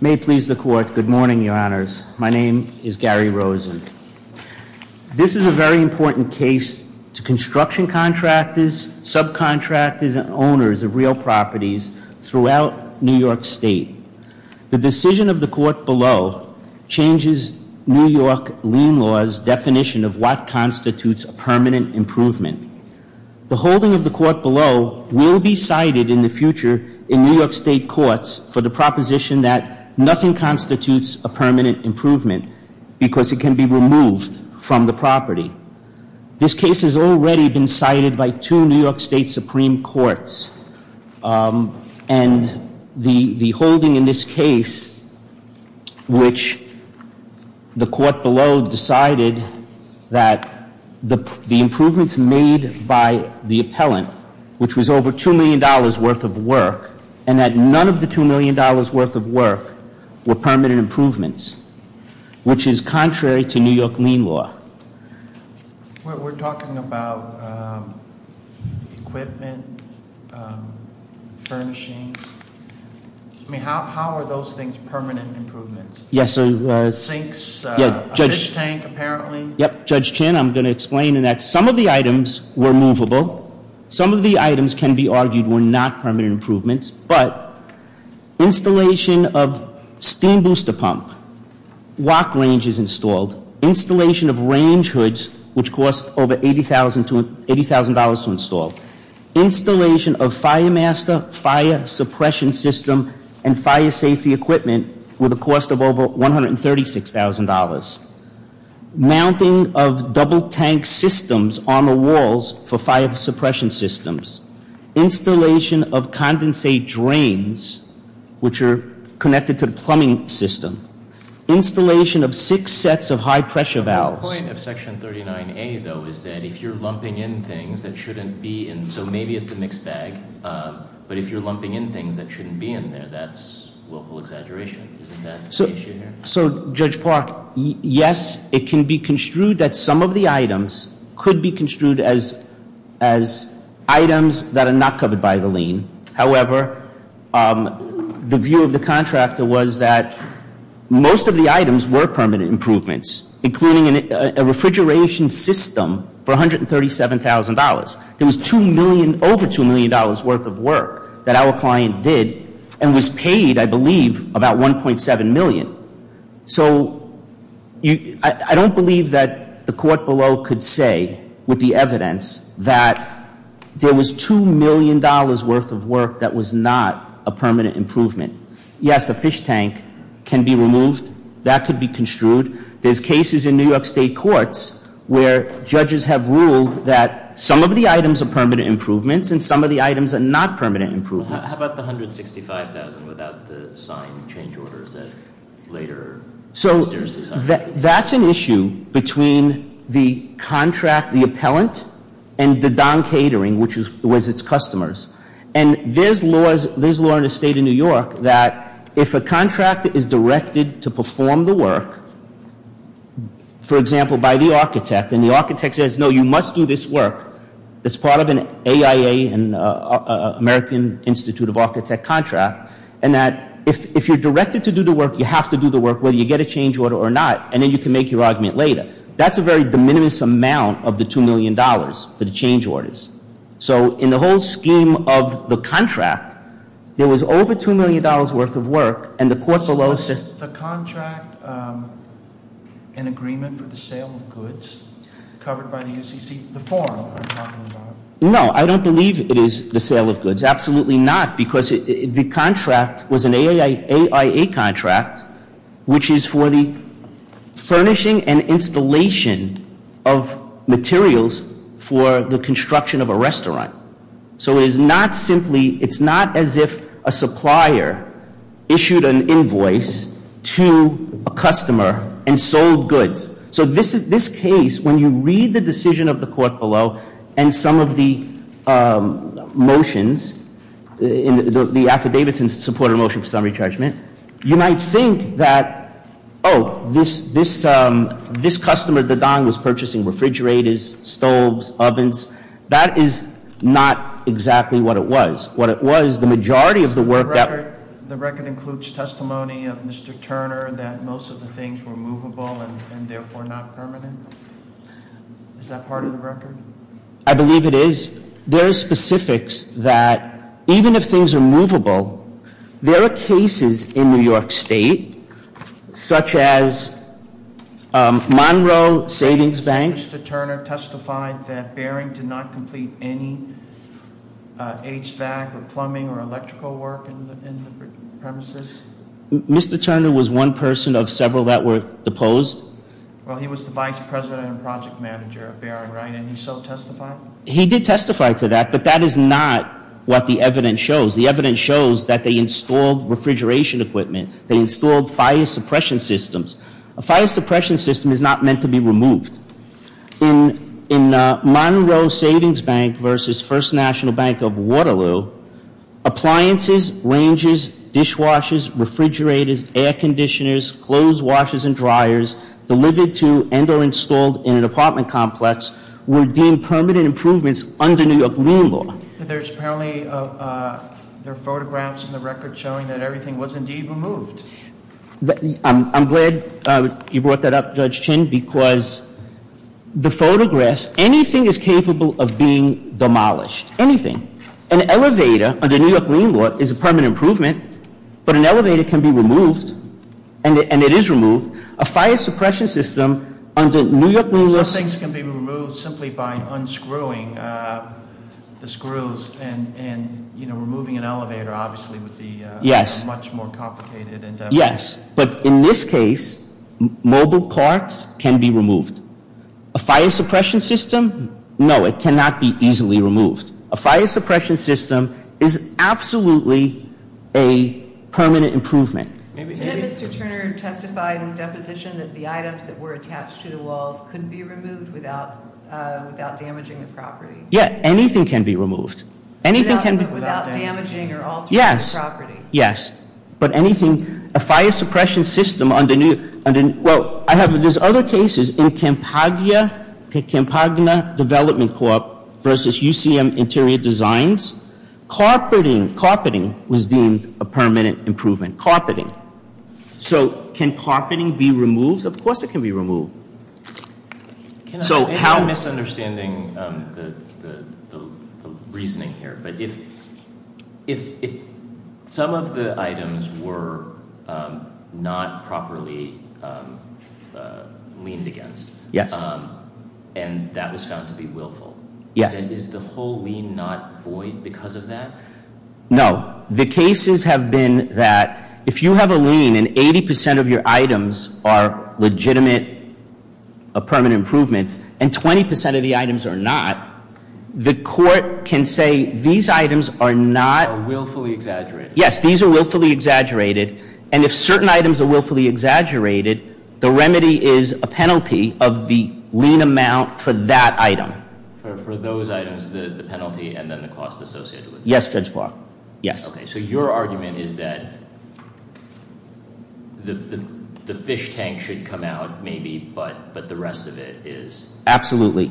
May it please the Court, good morning, Your Honors. My name is Gary Rosen. This is a very important case to construction contractors, subcontractors, and owners of real properties throughout New York State. The decision of the Court below changes New York lien law's definition of what constitutes a permanent improvement. The holding of the Court below will be cited in the future in New York State courts for the proposition that nothing constitutes a permanent improvement because it can be removed from the property. This case has already been cited by two New York State Supreme Courts, and the holding in this case, which the Court below decided that the improvements made by the appellant, which was over $2 million worth of work, and that none of the $2 million worth of work were permanent improvements, which is contrary to New York lien law. We're talking about equipment, furnishings. I mean, how are those things permanent improvements? Yes, so- Sinks, a fish tank apparently. Yep, Judge Chin, I'm going to explain in that some of the items were movable. Some of the items can be argued were not permanent improvements, but installation of steam booster pump, walk ranges installed, installation of range hoods, which cost over $80,000 to install, installation of fire master, fire suppression system, and fire safety equipment with a cost of over $136,000, mounting of double tank systems on the walls for fire suppression systems, installation of condensate drains, which are connected to the plumbing system, installation of six sets of high pressure valves. The point of section 39A, though, is that if you're lumping in things that shouldn't be in, so maybe it's a mixed bag, but if you're lumping in things that shouldn't be in there, that's willful exaggeration. Isn't that the issue here? So, Judge Park, yes, it can be construed that some of the items could be construed as items that are not covered by the lien. However, the view of the contractor was that most of the items were permanent improvements, including a refrigeration system for $137,000. It was over $2 million worth of work that our client did and was paid, I believe, about $1.7 million. So, I don't believe that the court below could say with the evidence that there was $2 million worth of work that was not a permanent improvement. Yes, a fish tank can be removed. That could be construed. There's cases in New York State courts where judges have ruled that some of the items are permanent improvements and some of the items are not permanent improvements. How about the $165,000 without the signed change orders that later Mr. Stersly signed? So, that's an issue between the contract, the appellant, and the Don Catering, which was its customers. And there's law in the state of New York that if a contract is directed to perform the work, for example, by the architect, then the architect says, no, you must do this work that's part of an AIA, an American Institute of Architect contract, and that if you're directed to do the work, you have to do the work, whether you get a change order or not, and then you can make your argument later. That's a very de minimis amount of the $2 million for the change orders. So, in the whole scheme of the contract, there was over $2 million worth of work, and the court below said- Is the contract an agreement for the sale of goods covered by the UCC, the forum I'm talking about? No, I don't believe it is the sale of goods. Absolutely not, because the contract was an AIA contract, which is for the furnishing and installation of materials for the construction of a restaurant. So it's not as if a supplier issued an invoice to a customer and sold goods. So this case, when you read the decision of the court below and some of the motions, the affidavits in support of a motion for summary judgment. You might think that, this customer, Mr. Dadang, was purchasing refrigerators, stoves, ovens. That is not exactly what it was. What it was, the majority of the work that- The record includes testimony of Mr. Turner, that most of the things were movable and therefore not permanent. Is that part of the record? I believe it is. There are specifics that, even if things are movable, there are cases in New York State, such as Monroe Savings Bank. Mr. Turner testified that Baring did not complete any HVAC or plumbing or electrical work in the premises? Mr. Turner was one person of several that were deposed. Well, he was the vice president and project manager of Baring, right? And he so testified? He did testify to that, but that is not what the evidence shows. The evidence shows that they installed refrigeration equipment. They installed fire suppression systems. A fire suppression system is not meant to be removed. In Monroe Savings Bank versus First National Bank of Waterloo, appliances, ranges, dishwashers, refrigerators, air conditioners, clothes washers and dryers delivered to and or installed in an apartment complex were deemed permanent improvements under New York lien law. There's apparently, there are photographs in the record showing that everything was indeed removed. I'm glad you brought that up, Judge Chin, because the photographs, anything is capable of being demolished, anything. An elevator, under New York lien law, is a permanent improvement, but an elevator can be removed, and it is removed. A fire suppression system under New York lien law- Some things can be removed simply by unscrewing the screws and removing an elevator obviously would be much more complicated. Yes, but in this case, mobile carts can be removed. A fire suppression system, no, it cannot be easily removed. A fire suppression system is absolutely a permanent improvement. Did Mr. Turner testify in his deposition that the items that were attached to the walls could be removed without damaging the property? Yeah, anything can be removed. Anything can be- Without damaging or altering the property. Yes, but anything, a fire suppression system under, well, there's other cases in Campagna Development Corp versus UCM Interior Designs. Carpeting was deemed a permanent improvement, carpeting. So can carpeting be removed? Of course it can be removed. So how- I'm misunderstanding the reasoning here, but if some of the items were not properly liened against, and that was found to be willful. Yes. Is the whole lien not void because of that? No, the cases have been that if you have a lien and 80% of your items are legitimate permanent improvements, and 20% of the items are not, the court can say these items are not- Are willfully exaggerated. Yes, these are willfully exaggerated. And if certain items are willfully exaggerated, the remedy is a penalty of the lien amount for that item. For those items, the penalty and then the cost associated with it. Yes, Judge Block. Yes. Okay, so your argument is that the fish tank should come out maybe, but the rest of it is- Absolutely.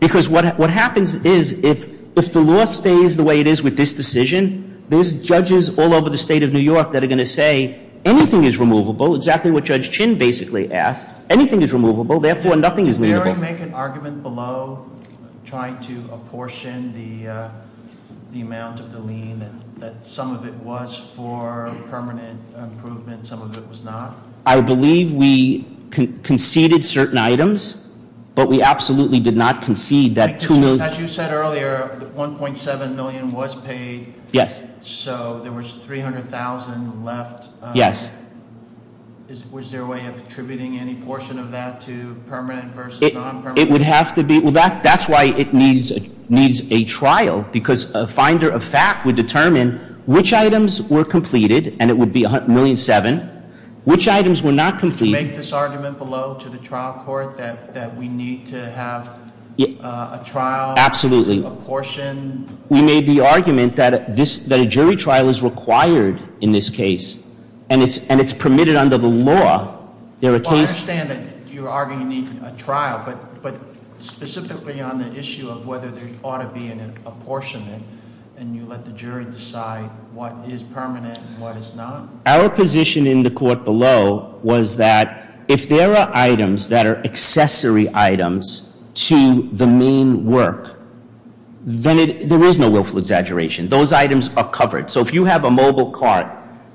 Because what happens is, if the law stays the way it is with this decision, there's judges all over the state of New York that are going to say, anything is removable. Exactly what Judge Chin basically asked. Anything is removable, therefore nothing is liable. Did you make an argument below trying to apportion the amount of the lien that some of it was for permanent improvement, some of it was not? I believe we conceded certain items, but we absolutely did not concede that 2 million- As you said earlier, 1.7 million was paid. Yes. So there was 300,000 left. Yes. Was there a way of attributing any portion of that to permanent versus non-permanent? It would have to be, well that's why it needs a trial. Because a finder of fact would determine which items were completed, and it would be 1.7 million. Which items were not completed- Did you make this argument below to the trial court that we need to have a trial? Absolutely. Apportion? We made the argument that a jury trial is required in this case. And it's permitted under the law. I understand that you're arguing a trial, but specifically on the issue of whether there ought to be an apportionment. And you let the jury decide what is permanent and what is not. Our position in the court below was that if there are items that are accessory items to the main work, then there is no willful exaggeration, those items are covered. So if you have a mobile cart,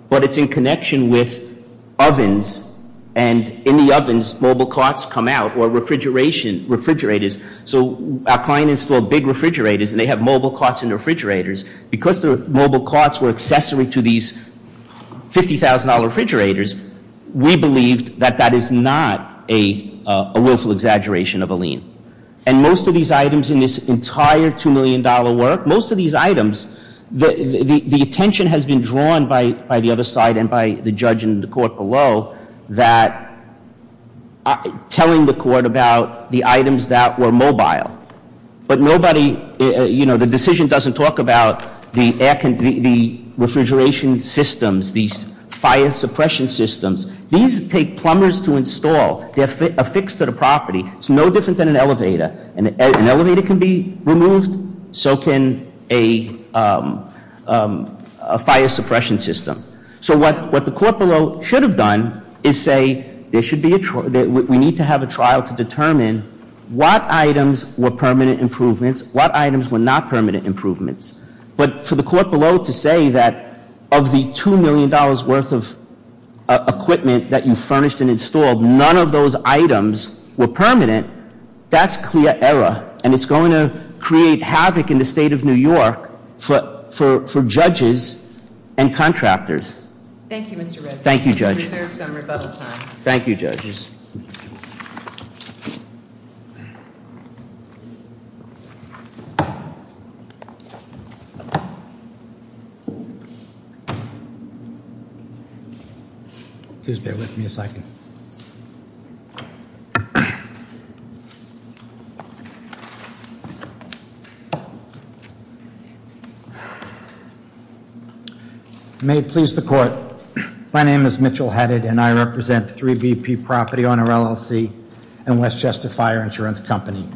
but it's in connection with ovens, and in the ovens, mobile carts come out, or refrigerators. So our client installed big refrigerators, and they have mobile carts in the refrigerators. Because the mobile carts were accessory to these $50,000 refrigerators, we believed that that is not a willful exaggeration of a lien. And most of these items in this entire $2 million work, most of these items, the attention has been drawn by the other side and by the judge and the court below that telling the court about the items that were mobile. But nobody, the decision doesn't talk about the refrigeration systems, these fire suppression systems, these take plumbers to install. They're affixed to the property. It's no different than an elevator. An elevator can be removed, so can a fire suppression system. So what the court below should have done is say, we need to have a trial to determine what items were permanent improvements, what items were not permanent improvements. But for the court below to say that of the $2 million worth of equipment that you furnished and it's going to create havoc in the state of New York for judges and contractors. Thank you, Mr. Rizzo. Thank you, Judge. Preserve some rebuttal time. Thank you, judges. Please bear with me a second. May it please the court. My name is Mitchell Hetted and I represent 3BP Property Owner LLC and Westchester Fire Insurance Company.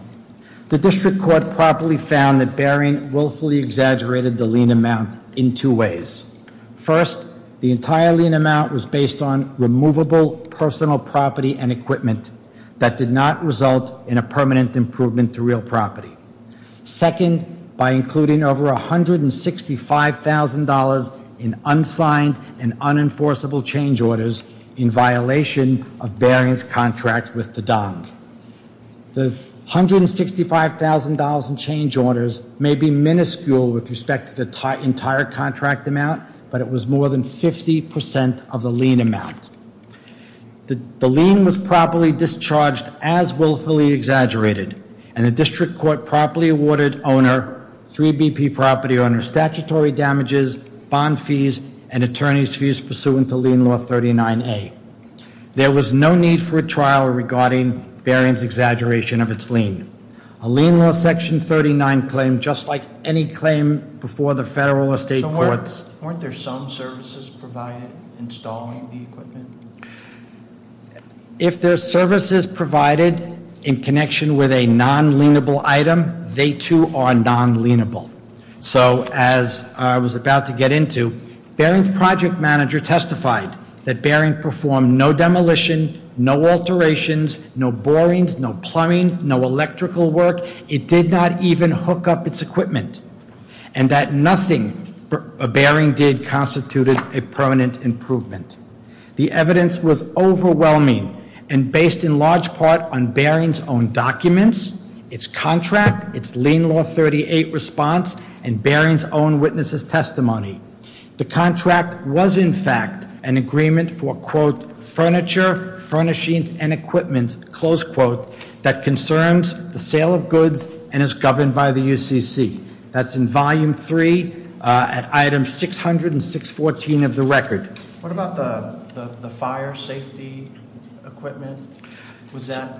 The district court properly found that bearing willfully exaggerated the lien amount in two ways. First, the entire lien amount was based on removable personal property and improvement to real property. Second, by including over $165,000 in unsigned and unenforceable change orders in violation of bearing's contract with the DONG. The $165,000 in change orders may be minuscule with respect to the entire contract amount, but it was more than 50% of the lien amount. The lien was properly discharged as willfully exaggerated. And the district court properly awarded owner, 3BP Property Owner, statutory damages, bond fees, and attorney's fees pursuant to lien law 39A. There was no need for a trial regarding bearing's exaggeration of its lien. A lien law section 39 claim, just like any claim before the federal or state courts. Weren't there some services provided installing the equipment? If there's services provided in connection with a non-lienable item, they too are non-lienable. So as I was about to get into, Baring's project manager testified that Baring performed no demolition, no alterations, no boring, no plumbing, no electrical work. It did not even hook up its equipment. And that nothing Baring did constituted a permanent improvement. The evidence was overwhelming and based in large part on Baring's own documents, its contract, its lien law 38 response, and Baring's own witnesses testimony. The contract was in fact an agreement for, quote, furniture, furnishings, and equipment by the UCC, that's in volume three at item 600 and 614 of the record. What about the fire safety equipment? Was that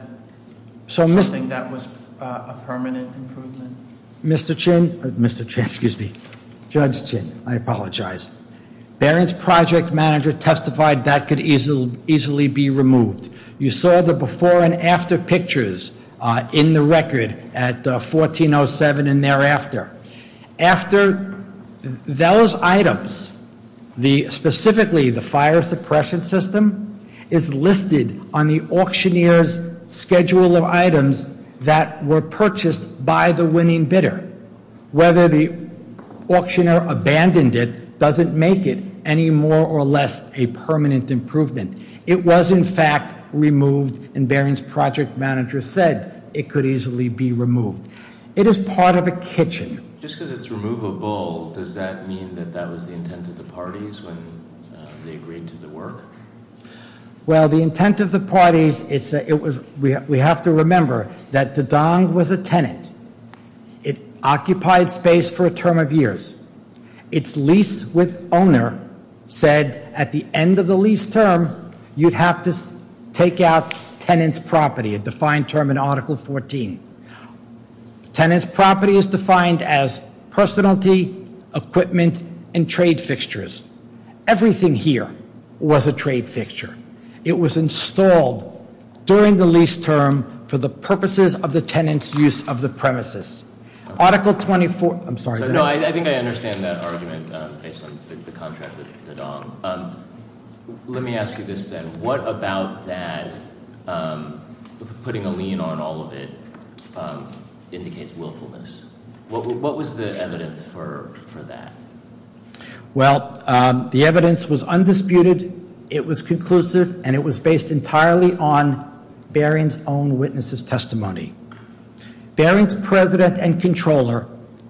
something that was a permanent improvement? Mr. Chin, Mr. Chin, excuse me, Judge Chin, I apologize. Baring's project manager testified that could easily be removed. You saw the before and after pictures in the record at 1407 and thereafter. After those items, specifically the fire suppression system, is listed on the auctioneer's schedule of items that were purchased by the winning bidder. Whether the auctioneer abandoned it doesn't make it any more or less a permanent improvement. It was in fact removed, and Baring's project manager said it could easily be removed. It is part of a kitchen. Just because it's removable, does that mean that that was the intent of the parties when they agreed to the work? Well, the intent of the parties, we have to remember that the Don was a tenant. It occupied space for a term of years. Its lease with owner said at the end of the lease term, you'd have to take out tenant's property, a defined term in Article 14. Tenant's property is defined as personality, equipment, and trade fixtures. Everything here was a trade fixture. It was installed during the lease term for the purposes of the tenant's use of the premises. Article 24, I'm sorry. No, I think I understand that argument based on the contract with the Don. Let me ask you this then. What about that putting a lien on all of it indicates willfulness? What was the evidence for that? Well, the evidence was undisputed, it was conclusive, and it was based entirely on Baring's own witness's testimony. Baring's president and controller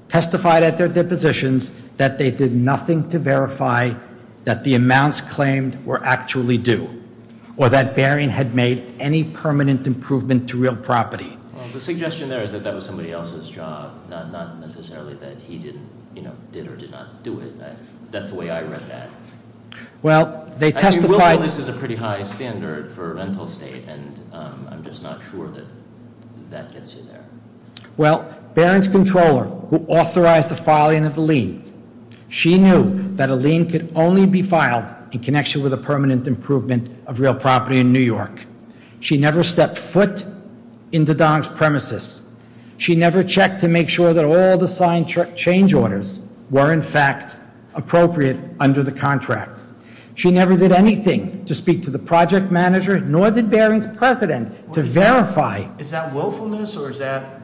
testified at their depositions that they did nothing to verify that the amounts claimed were actually due. Or that Baring had made any permanent improvement to real property. The suggestion there is that that was somebody else's job, not necessarily that he did or did not do it. That's the way I read that. Well, they testified- That gets you there. Well, Baring's controller, who authorized the filing of the lien. She knew that a lien could only be filed in connection with a permanent improvement of real property in New York. She never stepped foot in the Don's premises. She never checked to make sure that all the signed change orders were, in fact, appropriate under the contract. She never did anything to speak to the project manager, nor did Baring's president, to verify- Is that willfulness, or is that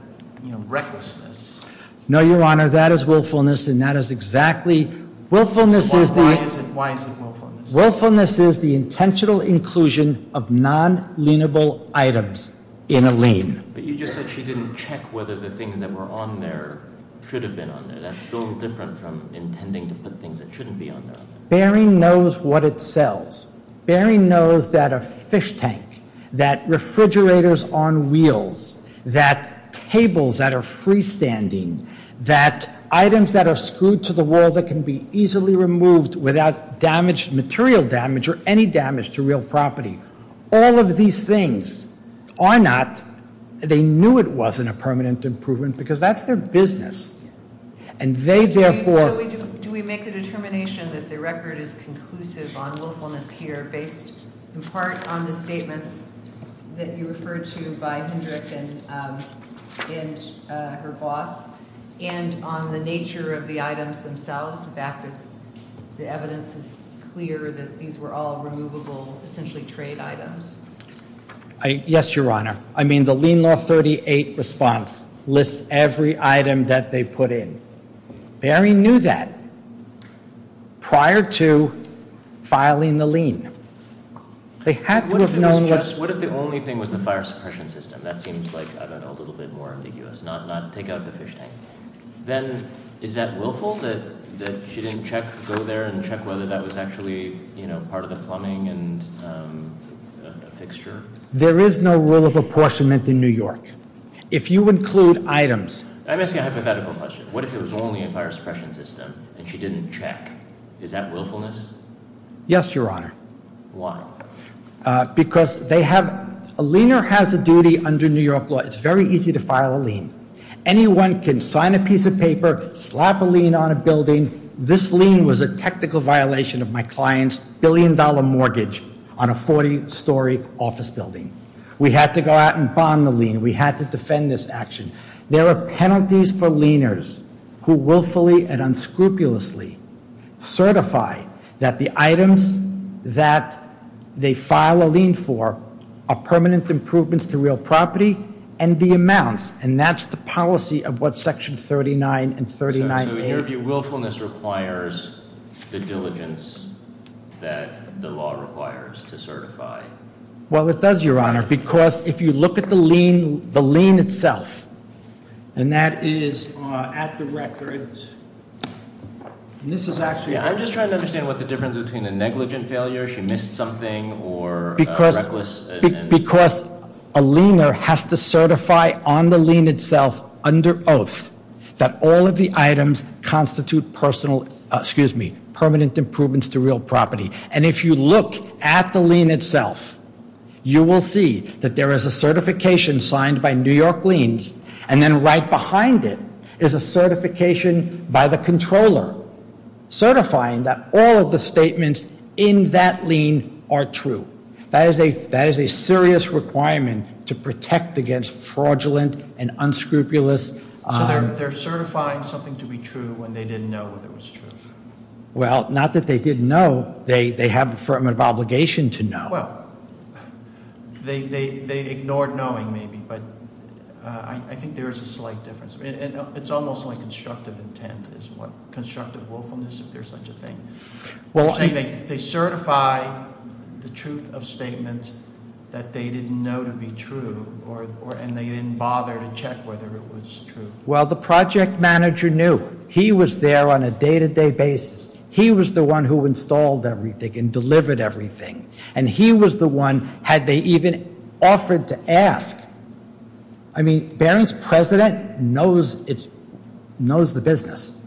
recklessness? No, Your Honor, that is willfulness, and that is exactly- Willfulness is the- Why is it willfulness? Willfulness is the intentional inclusion of non-lienable items in a lien. But you just said she didn't check whether the things that were on there should have been on there. That's still different from intending to put things that shouldn't be on there. Baring knows what it sells. Baring knows that a fish tank, that refrigerators on wheels, that tables that are freestanding, that items that are screwed to the wall that can be easily removed without material damage or any damage to real property. All of these things are not, they knew it wasn't a permanent improvement because that's their business. And they therefore- So do we make a determination that the record is conclusive on willfulness here based in part on the statements that you referred to by Hendrick and her boss? And on the nature of the items themselves, the fact that the evidence is clear that these were all removable, essentially trade items? Yes, Your Honor. I mean, the lien law 38 response lists every item that they put in. Baring knew that prior to filing the lien. They had to have known- What if the only thing was the fire suppression system? That seems like, I don't know, a little bit more ambiguous, not take out the fish tank. Then is that willful, that she didn't go there and check whether that was actually part of the plumbing and fixture? There is no rule of apportionment in New York. If you include items- I'm asking a hypothetical question. What if it was only a fire suppression system and she didn't check? Is that willfulness? Yes, Your Honor. Why? Because a liener has a duty under New York law. It's very easy to file a lien. Anyone can sign a piece of paper, slap a lien on a building. This lien was a technical violation of my client's billion dollar mortgage on a 40 story office building. We had to go out and bond the lien. We had to defend this action. There are penalties for lieners who willfully and unscrupulously certify that the items that they file a lien for are permanent improvements to real property and the amounts. And that's the policy of what section 39 and 39A- So in your view, willfulness requires the diligence that the law requires to certify. Well, it does, Your Honor, because if you look at the lien itself, and that is at the record. And this is actually- Yeah, I'm just trying to understand what the difference is between a negligent failure, she missed something, or a reckless- Because a liener has to certify on the lien itself under oath that all of the items constitute permanent improvements to real property. And if you look at the lien itself, you will see that there is a certification signed by New York Liens. And then right behind it is a certification by the controller, certifying that all of the statements in that lien are true. That is a serious requirement to protect against fraudulent and unscrupulous- So they're certifying something to be true when they didn't know that it was true? Well, not that they didn't know, they have affirmative obligation to know. Well, they ignored knowing, maybe, but I think there is a slight difference. It's almost like constructive intent is what constructive willfulness, if there's such a thing. They certify the truth of statements that they didn't know to be true, and they didn't bother to check whether it was true. Well, the project manager knew. He was there on a day-to-day basis. He was the one who installed everything and delivered everything. And he was the one, had they even offered to ask. I mean, Barron's president knows the business.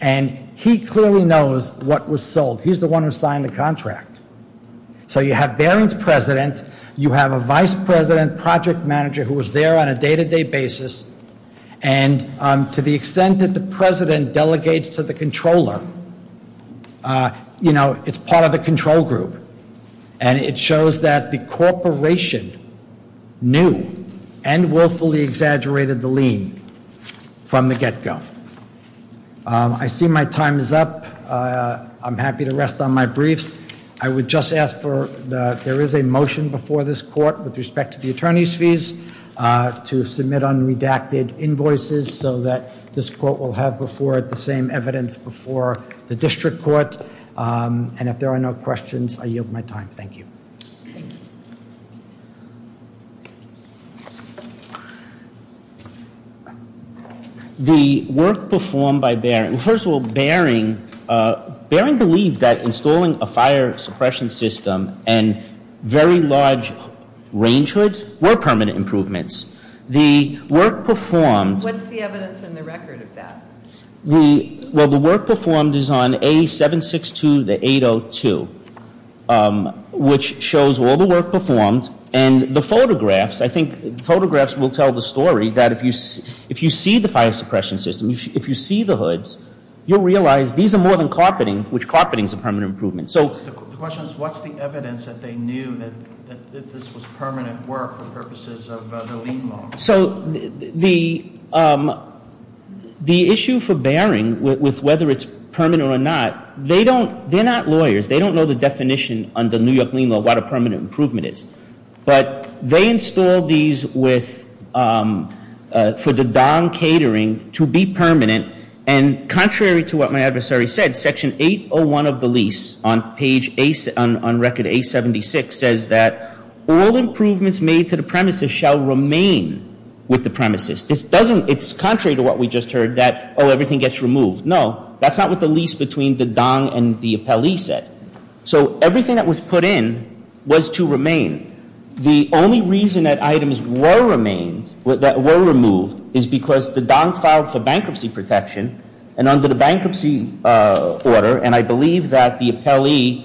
And he clearly knows what was sold. He's the one who signed the contract. So you have Barron's president, you have a vice president project manager who was there on a day-to-day basis. And to the extent that the president delegates to the controller, it's part of the control group. And it shows that the corporation knew and willfully exaggerated the lien from the get-go. I see my time is up. I'm happy to rest on my briefs. I would just ask for the, there is a motion before this court with respect to the attorney's fees to submit unredacted invoices so that this court will have before it the same evidence before the district court. And if there are no questions, I yield my time. Thank you. The work performed by Barron. First of all, Barron believed that installing a fire suppression system and very large range hoods were permanent improvements. The work performed- What's the evidence in the record of that? Well, the work performed is on A762, the 802 which shows all the work performed. And the photographs, I think photographs will tell the story that if you see the fire suppression system, if you see the hoods, you'll realize these are more than carpeting, which carpeting is a permanent improvement. So- The question is, what's the evidence that they knew that this was permanent work for purposes of the lien law? So the issue for Barron with whether it's permanent or not, they're not lawyers. They don't know the definition under New York lien law, what a permanent improvement is. But they installed these for the dong catering to be permanent. And contrary to what my adversary said, section 801 of the lease on record A76 says that all improvements made to the premises shall remain with the premises. This doesn't, it's contrary to what we just heard that, oh, everything gets removed. No, that's not what the lease between the dong and the appellee said. So everything that was put in was to remain. The only reason that items were removed is because the dong filed for bankruptcy protection and under the bankruptcy order, and I believe that the appellee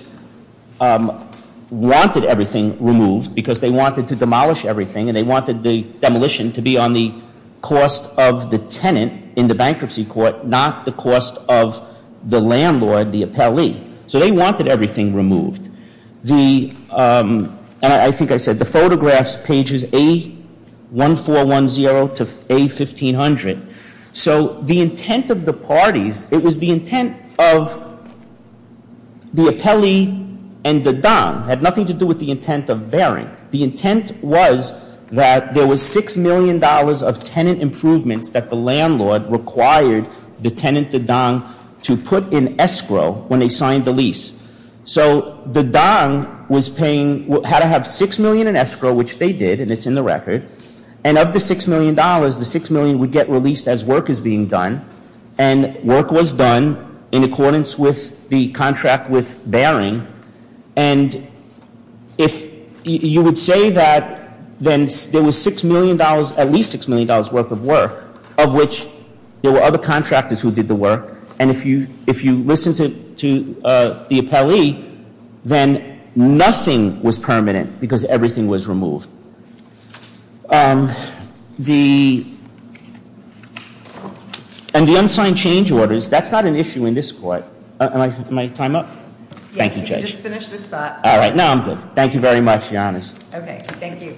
wanted everything removed because they wanted to demolish everything. And they wanted the demolition to be on the cost of the tenant in the bankruptcy court, not the cost of the landlord, the appellee. So they wanted everything removed. The, and I think I said the photographs pages A1410 to A1500. So the intent of the parties, it was the intent of the appellee and the dong had nothing to do with the intent of Barron. The intent was that there was $6 million of tenant improvements that the landlord required the tenant, the dong, to put in escrow when they signed the lease. So the dong was paying, had to have $6 million in escrow, which they did, and it's in the record. And of the $6 million, the $6 million would get released as work is being done. And work was done in accordance with the contract with Barron. And if you would say that then there was $6 million, $6 million worth of work, of which there were other contractors who did the work. And if you listen to the appellee, then nothing was permanent, because everything was removed. The, and the unsigned change orders, that's not an issue in this court. Am I on my time up? Thank you, Judge. Yes, you just finished this thought. All right, now I'm good. Thank you very much, Your Honors. Okay, thank you.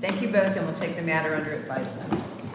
Thank you both, and we'll take the matter under advisement.